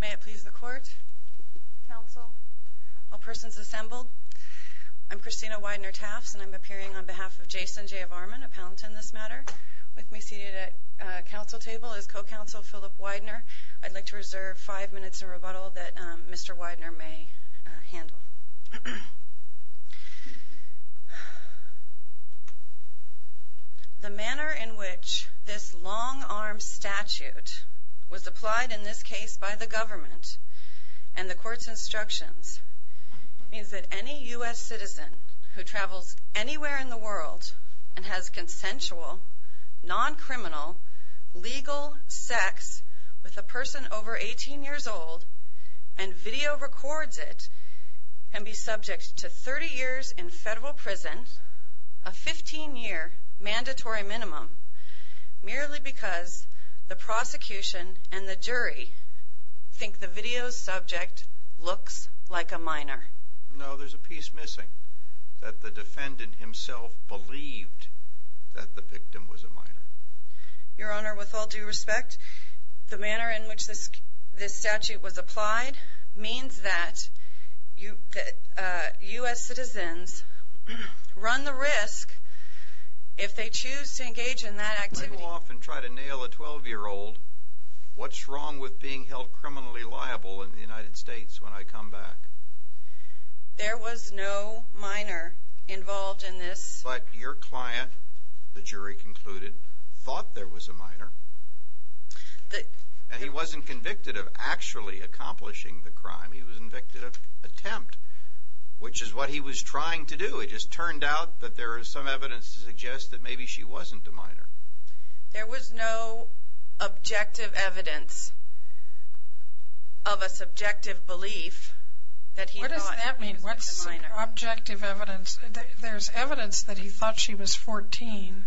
May it please the court, counsel, all persons assembled, I'm Christina Widener-Taffs and I'm appearing on behalf of Jason Jayavarman, a palatine in this matter, with me seated at council table is co-counsel Phillip Widener. I'd like to reserve five minutes of rebuttal that Mr. Widener may handle. The manner in which this long-arm statute was applied in this case by the government and the court's instructions means that any U.S. citizen who travels anywhere in the world and has consensual, non-criminal, legal sex with a person over 18 years old and video records it can be subject to 30 years in federal prison, a 15-year mandatory minimum, merely because the prosecution and the jury think the video's subject looks like a minor. No, there's a piece missing, that the defendant himself believed that the victim was a minor. Your Honor, with all due respect, the manner in which this statute was applied means that U.S. citizens run the risk if they choose to engage in that activity. I go off and try to nail a 12-year-old. What's wrong with being held criminally liable in the United States when I come back? There was no minor involved in this. But your client, the jury concluded, thought there was a minor. And he wasn't convicted of actually accomplishing the crime, he was convicted of attempt, which is what he was trying to do. It just turned out that there is some evidence to suggest that maybe she wasn't a minor. There was no objective evidence of a subjective belief that he was a minor. What does that mean, what's objective evidence? There's evidence that he thought she was 14.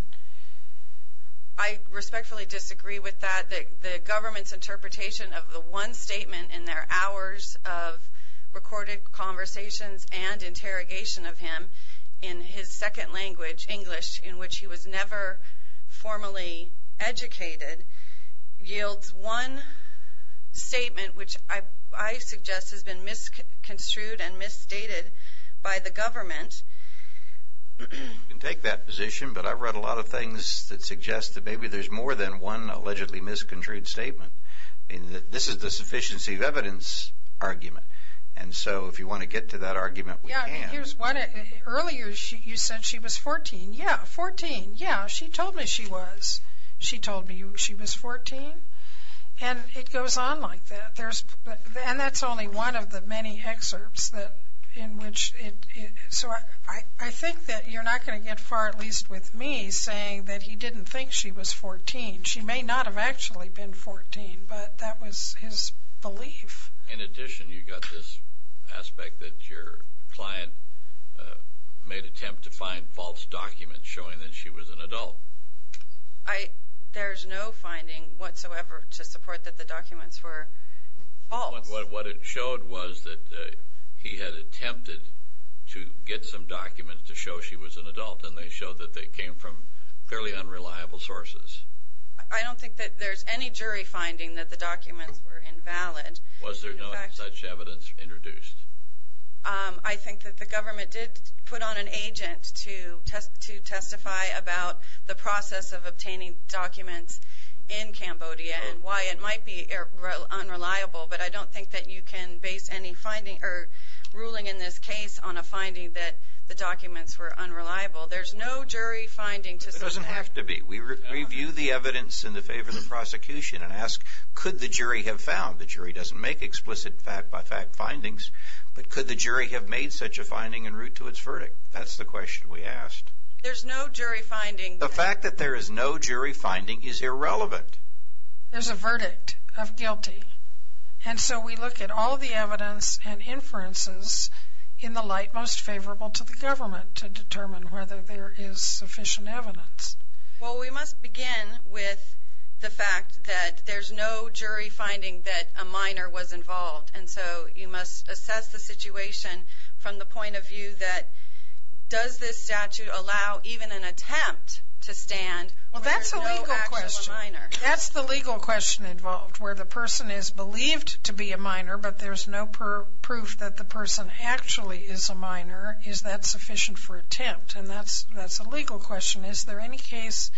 I respectfully disagree with that. The government's interpretation of the one statement in their hours of recorded conversations and interrogation of him in his second language, English, in which he was never formally educated, yields one statement which I suggest has been misconstrued and misstated by the government. You can take that position, but I've read a lot of things that suggest that maybe there's more than one allegedly misconstrued statement. This is the sufficiency of evidence argument. And so if you want to get to that argument, we can. Earlier you said she was 14. Yeah, 14. Yeah, she told me she was. She told me she was 14. And it goes on like that. And that's only one of the many excerpts in which it is. So I think that you're not going to get far, at least with me, saying that he didn't think she was 14. She may not have actually been 14, but that was his belief. In addition, you've got this aspect that your client made an attempt to find false documents showing that she was an adult. There's no finding whatsoever to support that the documents were false. What it showed was that he had attempted to get some documents to show she was an adult, and they showed that they came from fairly unreliable sources. I don't think that there's any jury finding that the documents were invalid. Was there no such evidence introduced? I think that the government did put on an agent to testify about the process of obtaining documents in Cambodia and why it might be unreliable, but I don't think that you can base any ruling in this case on a finding that the documents were unreliable. There's no jury finding to support that. There doesn't have to be. We review the evidence in the favor of the prosecution and ask, could the jury have found? The jury doesn't make explicit fact-by-fact findings, but could the jury have made such a finding en route to its verdict? That's the question we asked. There's no jury finding. The fact that there is no jury finding is irrelevant. There's a verdict of guilty, and so we look at all the evidence and inferences in the light most favorable to the government to determine whether there is sufficient evidence. Well, we must begin with the fact that there's no jury finding that a minor was involved, and so you must assess the situation from the point of view that, does this statute allow even an attempt to stand where there's no actual minor? Well, that's a legal question. That's the legal question involved, where the person is believed to be a minor, but there's no proof that the person actually is a minor. Is that sufficient for attempt? And that's a legal question. Is there any case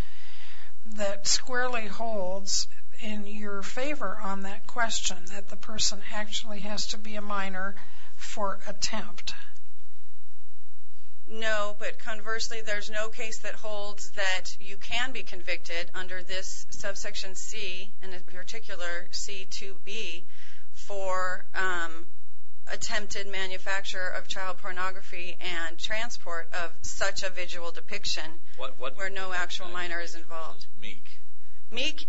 that squarely holds in your favor on that question, that the person actually has to be a minor for attempt? No, but conversely, there's no case that holds that you can be convicted under this subsection C, and in particular, C2B, for attempted manufacture of child pornography and transport of such a visual depiction where no actual minor is involved. Meek? Meek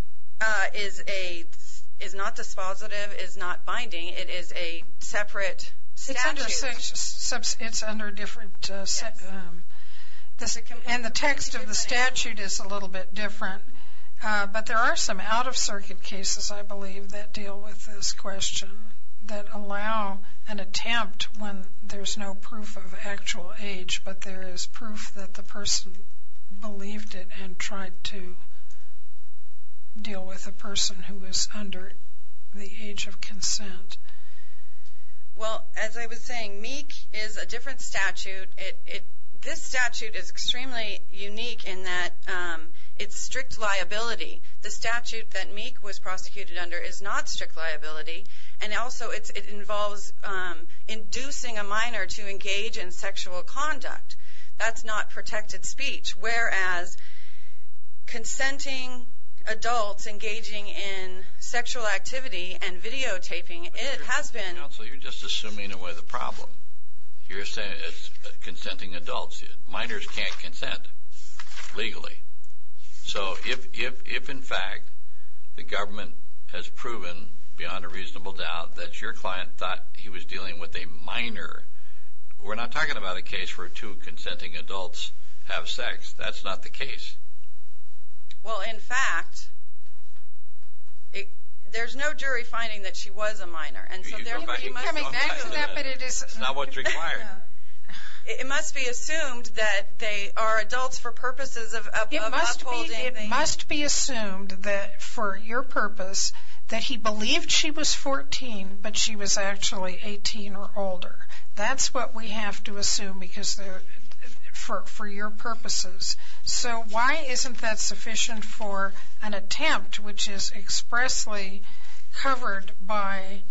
is not dispositive, is not binding. It is a separate statute. It's under a different subsection, and the text of the statute is a little bit different, but there are some out-of-circuit cases, I believe, that deal with this question that allow an attempt when there's no proof of actual age, but there is proof that the person believed it and tried to deal with a person who was under the age of consent. Well, as I was saying, Meek is a different statute. This statute is extremely unique in that it's strict liability. The statute that Meek was prosecuted under is not strict liability, and also it involves inducing a minor to engage in sexual conduct. That's not protected speech. Whereas consenting adults engaging in sexual activity and videotaping, it has been— Counsel, you're just assuming away the problem. You're saying it's consenting adults. Minors can't consent legally. So if, in fact, the government has proven beyond a reasonable doubt that your client thought he was dealing with a minor, we're not talking about a case where two consenting adults have sex. That's not the case. Well, in fact, there's no jury finding that she was a minor. You keep coming back to that, but it is— It's not what's required. It must be assumed that they are adults for purposes of upholding— It must be assumed that, for your purpose, that he believed she was 14 but she was actually 18 or older. That's what we have to assume for your purposes. So why isn't that sufficient for an attempt, which is expressly covered by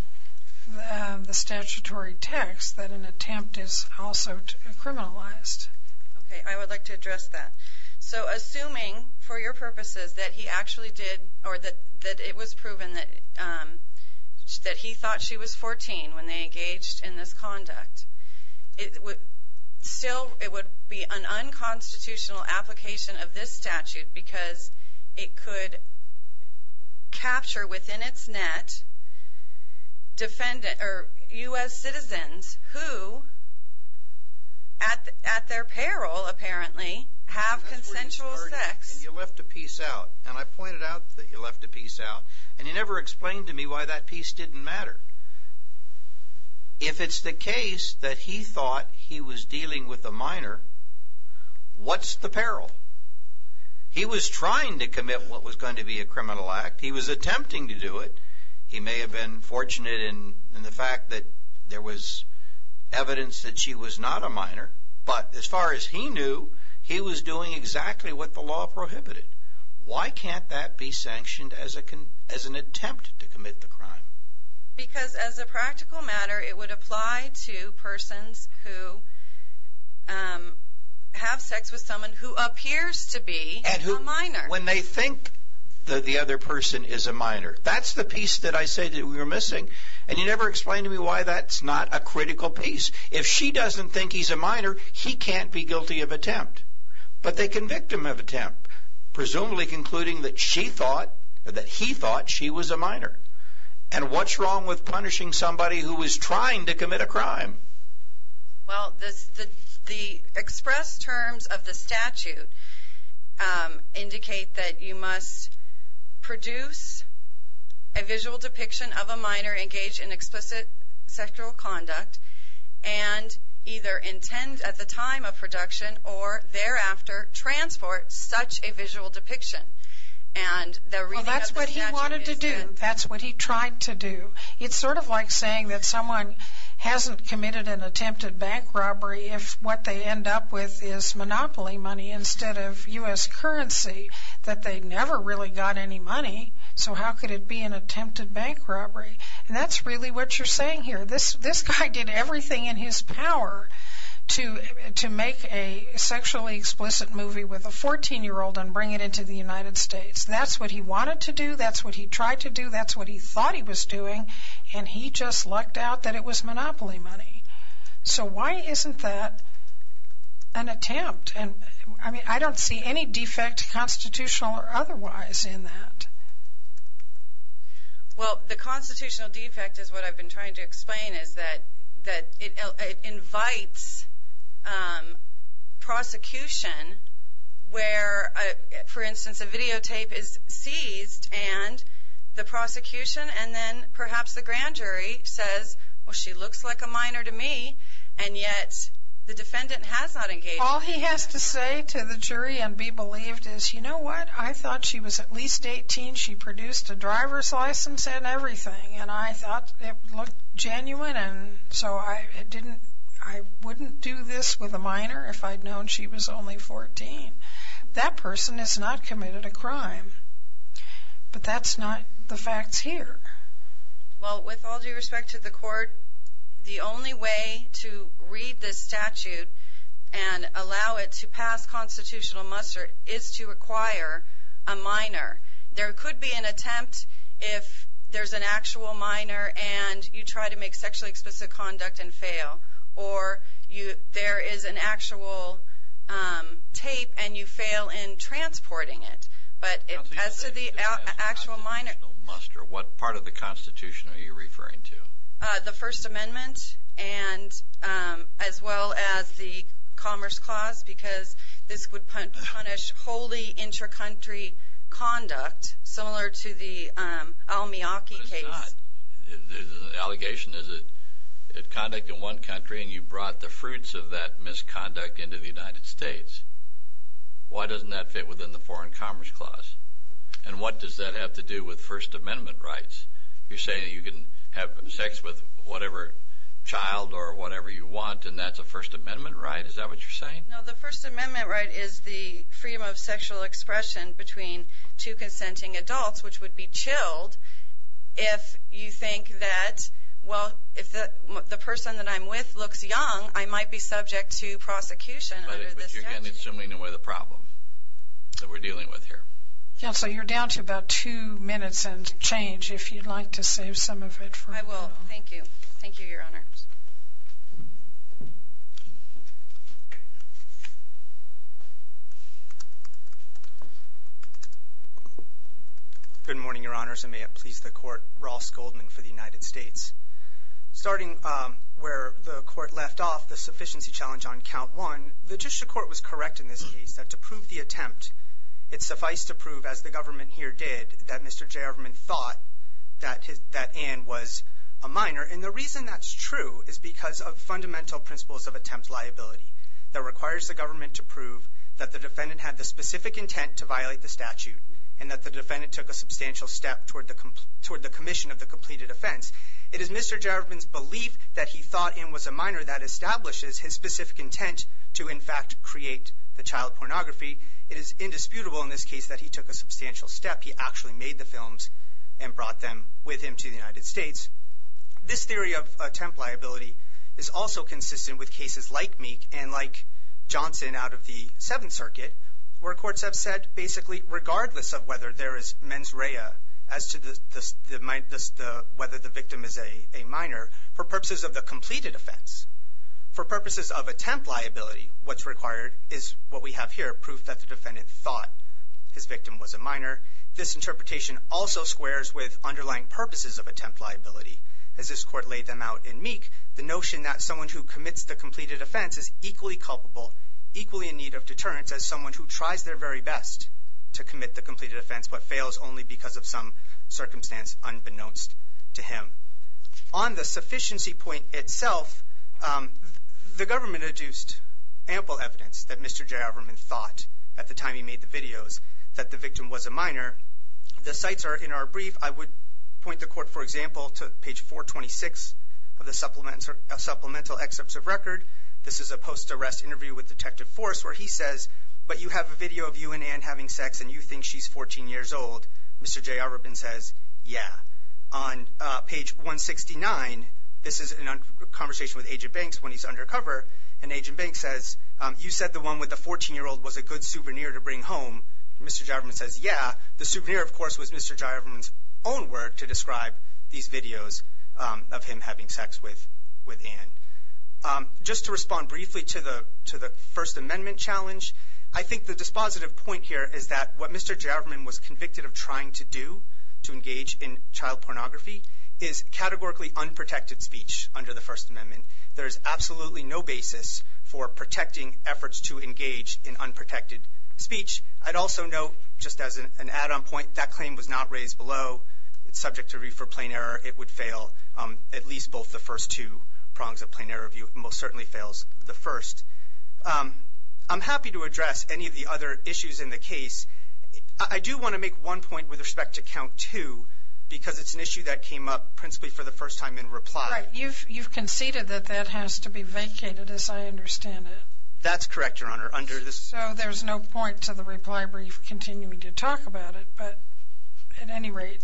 the statutory text, that an attempt is also criminalized? Okay, I would like to address that. So assuming, for your purposes, that he actually did— or that it was proven that he thought she was 14 when they engaged in this conduct, still, it would be an unconstitutional application of this statute because it could capture within its net U.S. citizens who, at their peril, apparently, have consensual sex. You left a piece out, and I pointed out that you left a piece out, and you never explained to me why that piece didn't matter. If it's the case that he thought he was dealing with a minor, what's the peril? He was trying to commit what was going to be a criminal act. He was attempting to do it. He may have been fortunate in the fact that there was evidence that she was not a minor, but as far as he knew, he was doing exactly what the law prohibited. Why can't that be sanctioned as an attempt to commit the crime? Because as a practical matter, it would apply to persons who have sex with someone who appears to be a minor. When they think that the other person is a minor. That's the piece that I say that we were missing, and you never explained to me why that's not a critical piece. If she doesn't think he's a minor, he can't be guilty of attempt. But they convict him of attempt, presumably concluding that she thought—that he thought she was a minor. And what's wrong with punishing somebody who is trying to commit a crime? Well, the express terms of the statute indicate that you must produce a visual depiction of a minor engaged in explicit sexual conduct and either intend at the time of production or thereafter transport such a visual depiction. Well, that's what he wanted to do. That's what he tried to do. It's sort of like saying that someone hasn't committed an attempted bank robbery if what they end up with is monopoly money instead of U.S. currency, that they never really got any money, so how could it be an attempted bank robbery? And that's really what you're saying here. This guy did everything in his power to make a sexually explicit movie with a 14-year-old and bring it into the United States. That's what he wanted to do. That's what he tried to do. That's what he thought he was doing, and he just lucked out that it was monopoly money. So why isn't that an attempt? I mean, I don't see any defect, constitutional or otherwise, in that. Well, the constitutional defect is what I've been trying to explain, is that it invites prosecution where, for instance, a videotape is seized and the prosecution and then perhaps the grand jury says, well, she looks like a minor to me, and yet the defendant has not engaged. All he has to say to the jury and be believed is, you know what? I thought she was at least 18. She produced a driver's license and everything, and I thought it looked genuine, and so I wouldn't do this with a minor if I'd known she was only 14. That person has not committed a crime, but that's not the facts here. Well, with all due respect to the court, the only way to read this statute and allow it to pass constitutional muster is to require a minor. There could be an attempt if there's an actual minor and you try to make sexually explicit conduct and fail, or there is an actual tape and you fail in transporting it. But as to the actual minor... What part of the Constitution are you referring to? The First Amendment as well as the Commerce Clause because this would punish wholly intracountry conduct, similar to the Almiyaki case. But it's not. The allegation is that conduct in one country and you brought the fruits of that misconduct into the United States. Why doesn't that fit within the Foreign Commerce Clause? And what does that have to do with First Amendment rights? You're saying that you can have sex with whatever child or whatever you want, and that's a First Amendment right? Is that what you're saying? No, the First Amendment right is the freedom of sexual expression between two consenting adults, which would be chilled if you think that, well, if the person that I'm with looks young, I might be subject to prosecution under this statute. But you're again assuming away the problem that we're dealing with here. Counsel, you're down to about two minutes and change. If you'd like to save some of it for a while. I will. Thank you. Thank you, Your Honor. Good morning, Your Honors, and may it please the Court. Ross Goldman for the United States. Starting where the Court left off, the sufficiency challenge on count one, the Judicial Court was correct in this case that to prove the attempt, it's suffice to prove, as the government here did, that Mr. Jarivman thought that Ann was a minor. And the reason that's true is because of fundamental principles of attempt liability that requires the government to prove that the defendant had the specific intent to violate the statute and that the defendant took a substantial step toward the commission of the completed offense. It is Mr. Jarivman's belief that he thought Ann was a minor that establishes his specific intent to, in fact, create the child pornography. It is indisputable in this case that he took a substantial step. He actually made the films and brought them with him to the United States. This theory of attempt liability is also consistent with cases like Meek and like Johnson out of the Seventh Circuit, where courts have said, basically, regardless of whether there is mens rea, as to whether the victim is a minor, for purposes of the completed offense. For purposes of attempt liability, what's required is what we have here, proof that the defendant thought his victim was a minor. This interpretation also squares with underlying purposes of attempt liability. As this court laid them out in Meek, the notion that someone who commits the completed offense is equally culpable, equally in need of deterrence, as someone who tries their very best to commit the completed offense but fails only because of some circumstance unbeknownst to him. On the sufficiency point itself, the government adduced ample evidence that Mr. J. Auberman thought, at the time he made the videos, that the victim was a minor. The sites are in our brief. I would point the court, for example, to page 426 of the supplemental excerpts of record. This is a post-arrest interview with Detective Forrest where he says, but you have a video of you and Ann having sex and you think she's 14 years old. Mr. J. Auberman says, yeah. On page 169, this is a conversation with Agent Banks when he's undercover, and Agent Banks says, you said the one with the 14-year-old was a good souvenir to bring home. Mr. J. Auberman says, yeah. The souvenir, of course, was Mr. J. Auberman's own word to describe these videos of him having sex with Ann. Just to respond briefly to the First Amendment challenge, I think the dispositive point here is that what Mr. J. Auberman was convicted of trying to do to engage in child pornography is categorically unprotected speech under the First Amendment. There is absolutely no basis for protecting efforts to engage in unprotected speech. I'd also note, just as an add-on point, that claim was not raised below. It's subject to review for plain error. It would fail at least both the first two prongs of plain error review. It most certainly fails the first. I'm happy to address any of the other issues in the case. I do want to make one point with respect to count two, because it's an issue that came up principally for the first time in reply. You've conceded that that has to be vacated, as I understand it. That's correct, Your Honor. So there's no point to the reply brief continuing to talk about it, but at any rate,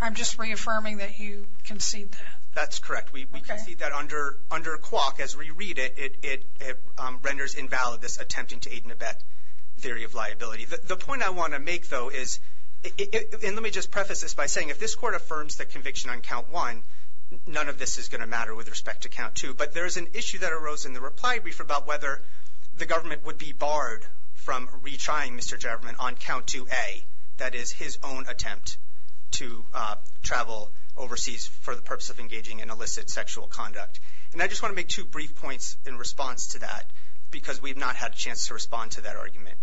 I'm just reaffirming that you concede that. That's correct. We concede that under a quark. As we read it, it renders invalid this attempting to aid and abet theory of liability. The point I want to make, though, is, and let me just preface this by saying, if this court affirms the conviction on count one, none of this is going to matter with respect to count two, but there is an issue that arose in the reply brief about whether the government would be barred from retrying Mr. Javerman on count 2A, that is, his own attempt to travel overseas for the purpose of engaging in illicit sexual conduct. And I just want to make two brief points in response to that, because we have not had a chance to respond to that argument.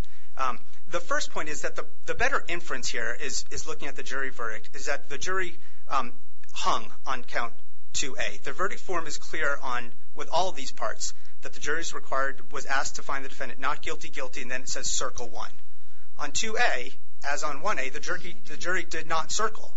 The first point is that the better inference here is looking at the jury verdict, is that the jury hung on count 2A. The verdict form is clear with all of these parts, that the jury was asked to find the defendant not guilty, guilty, and then it says circle one. On 2A, as on 1A, the jury did not circle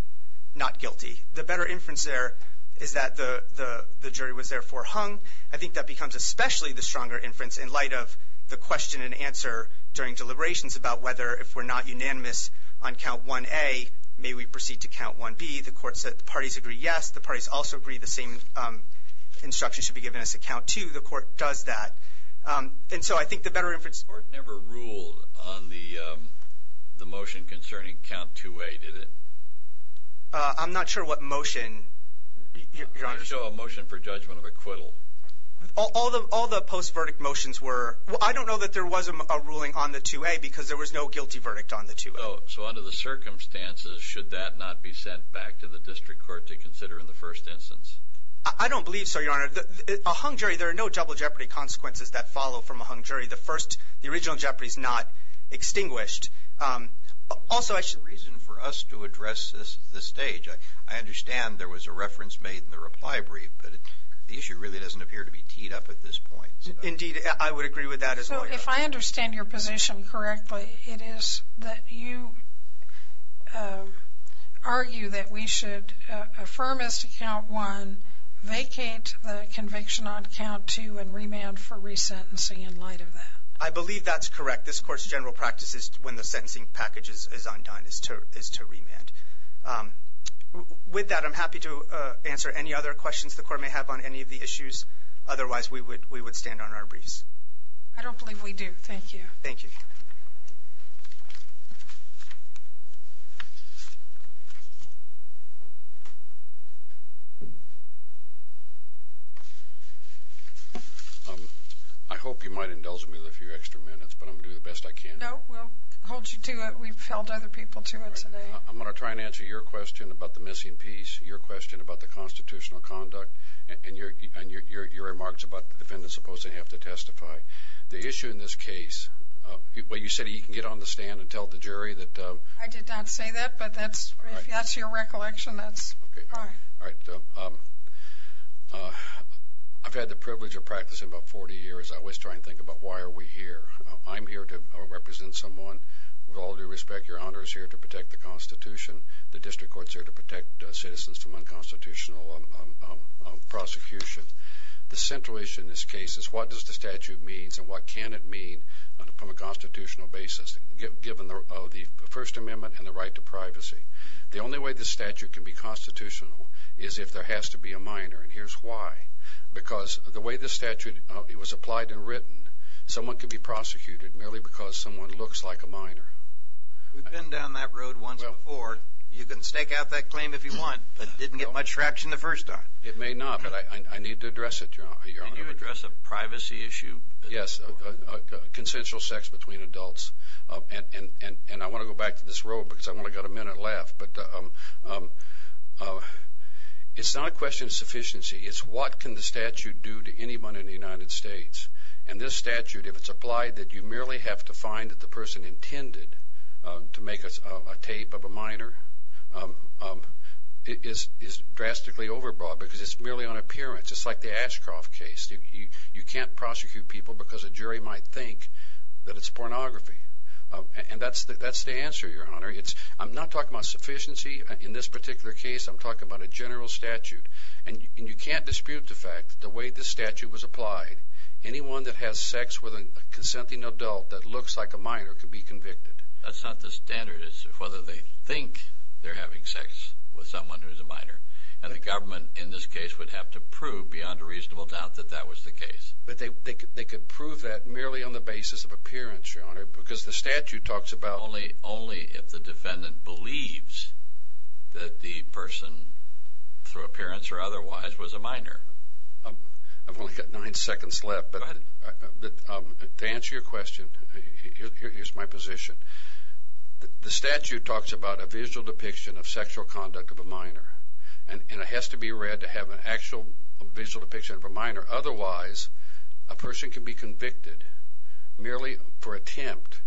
not guilty. The better inference there is that the jury was therefore hung. I think that becomes especially the stronger inference in light of the question and answer during deliberations about whether, if we're not unanimous on count 1A, may we proceed to count 1B. The court said the parties agree yes. The parties also agree the same instructions should be given as to count two. The court does that. And so I think the better inference – The court never ruled on the motion concerning count 2A, did it? I'm not sure what motion, Your Honor. It was a motion for judgment of acquittal. All the post-verdict motions were – I don't know that there was a ruling on the 2A because there was no guilty verdict on the 2A. So under the circumstances, should that not be sent back to the district court to consider in the first instance? I don't believe so, Your Honor. A hung jury, there are no double jeopardy consequences that follow from a hung jury. The original jeopardy is not extinguished. Also – There's no reason for us to address this at this stage. I understand there was a reference made in the reply brief, but the issue really doesn't appear to be teed up at this point. Indeed, I would agree with that as a lawyer. So if I understand your position correctly, it is that you argue that we should affirm as to count 1, vacate the conviction on count 2, and remand for resentencing in light of that. I believe that's correct. This court's general practice is when the sentencing package is undone, is to remand. With that, I'm happy to answer any other questions the court may have on any of the issues. Otherwise, we would stand on our briefs. I don't believe we do. Thank you. Thank you. I hope you might indulge me with a few extra minutes, but I'm going to do the best I can. No, we'll hold you to it. We've held other people to it today. I'm going to try and answer your question about the missing piece, your question about the constitutional conduct, and your remarks about the defendant's supposed to have to testify. The issue in this case, well, you said you can get on the stand and tell the jury that... I did not say that, but if that's your recollection, that's fine. All right. I've had the privilege of practicing about 40 years. I always try and think about why are we here. I'm here to represent someone. With all due respect, Your Honor is here to protect the Constitution. The district courts are here to protect citizens from unconstitutional prosecution. The central issue in this case is what does the statute mean and what can it mean from a constitutional basis, given the First Amendment and the right to privacy. The only way the statute can be constitutional is if there has to be a minor, and here's why. Because the way the statute was applied and written, someone can be prosecuted merely because someone looks like a minor. We've been down that road once before. You can stake out that claim if you want, but it didn't get much traction the first time. It may not, but I need to address it, Your Honor. Can you address a privacy issue? Yes, consensual sex between adults. And I want to go back to this road because I've only got a minute left. It's not a question of sufficiency. It's what can the statute do to anyone in the United States. And this statute, if it's applied, that you merely have to find that the person intended to make a tape of a minor is drastically overbroad because it's merely on appearance. It's like the Ashcroft case. You can't prosecute people because a jury might think that it's pornography. And that's the answer, Your Honor. I'm not talking about sufficiency in this particular case. I'm talking about a general statute. And you can't dispute the fact that the way the statute was applied, anyone that has sex with a consenting adult that looks like a minor can be convicted. That's not the standard. It's whether they think they're having sex with someone who's a minor. And the government in this case would have to prove beyond a reasonable doubt that that was the case. But they could prove that merely on the basis of appearance, Your Honor, because the statute talks about only if the defendant believes that the person, through appearance or otherwise, was a minor. I've only got nine seconds left, but to answer your question, here's my position. The statute talks about a visual depiction of sexual conduct of a minor, and it has to be read to have an actual visual depiction of a minor. Otherwise, a person can be convicted merely for attempt,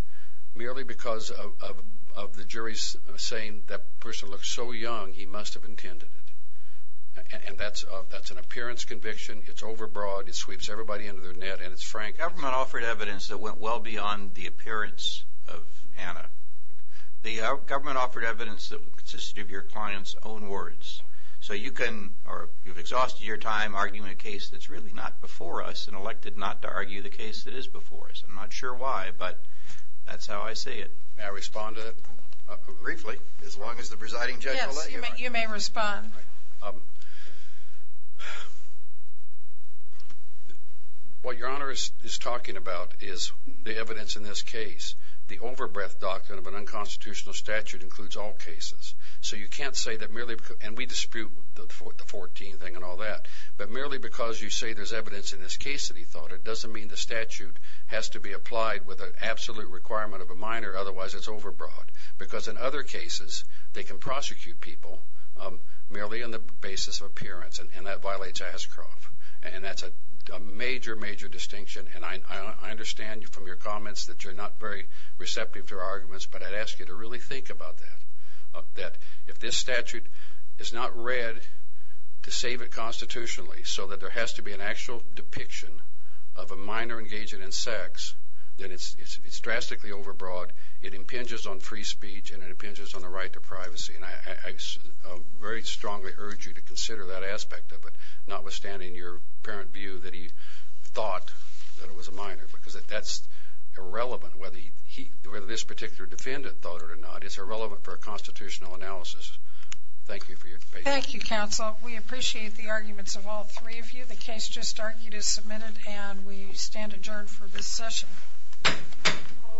merely because of the jury saying that person looks so young he must have intended it. And that's an appearance conviction. It's overbroad. It sweeps everybody under their net, and it's frank. The government offered evidence that went well beyond the appearance of Anna. The government offered evidence that consisted of your client's own words. So you can, or you've exhausted your time arguing a case that's really not before us and elected not to argue the case that is before us. I'm not sure why, but that's how I see it. May I respond to that briefly, as long as the presiding judge will let you? Yes, you may respond. What Your Honor is talking about is the evidence in this case. The overbreadth document of an unconstitutional statute includes all cases. So you can't say that merely, and we dispute the 14 thing and all that, but merely because you say there's evidence in this case that he thought, it doesn't mean the statute has to be applied with an absolute requirement of a minor. Otherwise, it's overbroad. Because in other cases, they can prosecute people merely on the basis of appearance, and that violates Ascroft, and that's a major, major distinction. And I understand from your comments that you're not very receptive to our arguments, but I'd ask you to really think about that, that if this statute is not read to save it constitutionally so that there has to be an actual depiction of a minor engaging in sex, then it's drastically overbroad, it impinges on free speech, and it impinges on the right to privacy. And I very strongly urge you to consider that aspect of it, notwithstanding your apparent view that he thought that it was a minor, because that's irrelevant whether this particular defendant thought it or not. It's irrelevant for a constitutional analysis. Thank you for your patience. Thank you, counsel. We appreciate the arguments of all three of you. The case just argued is submitted, and we stand adjourned for this session. All rise.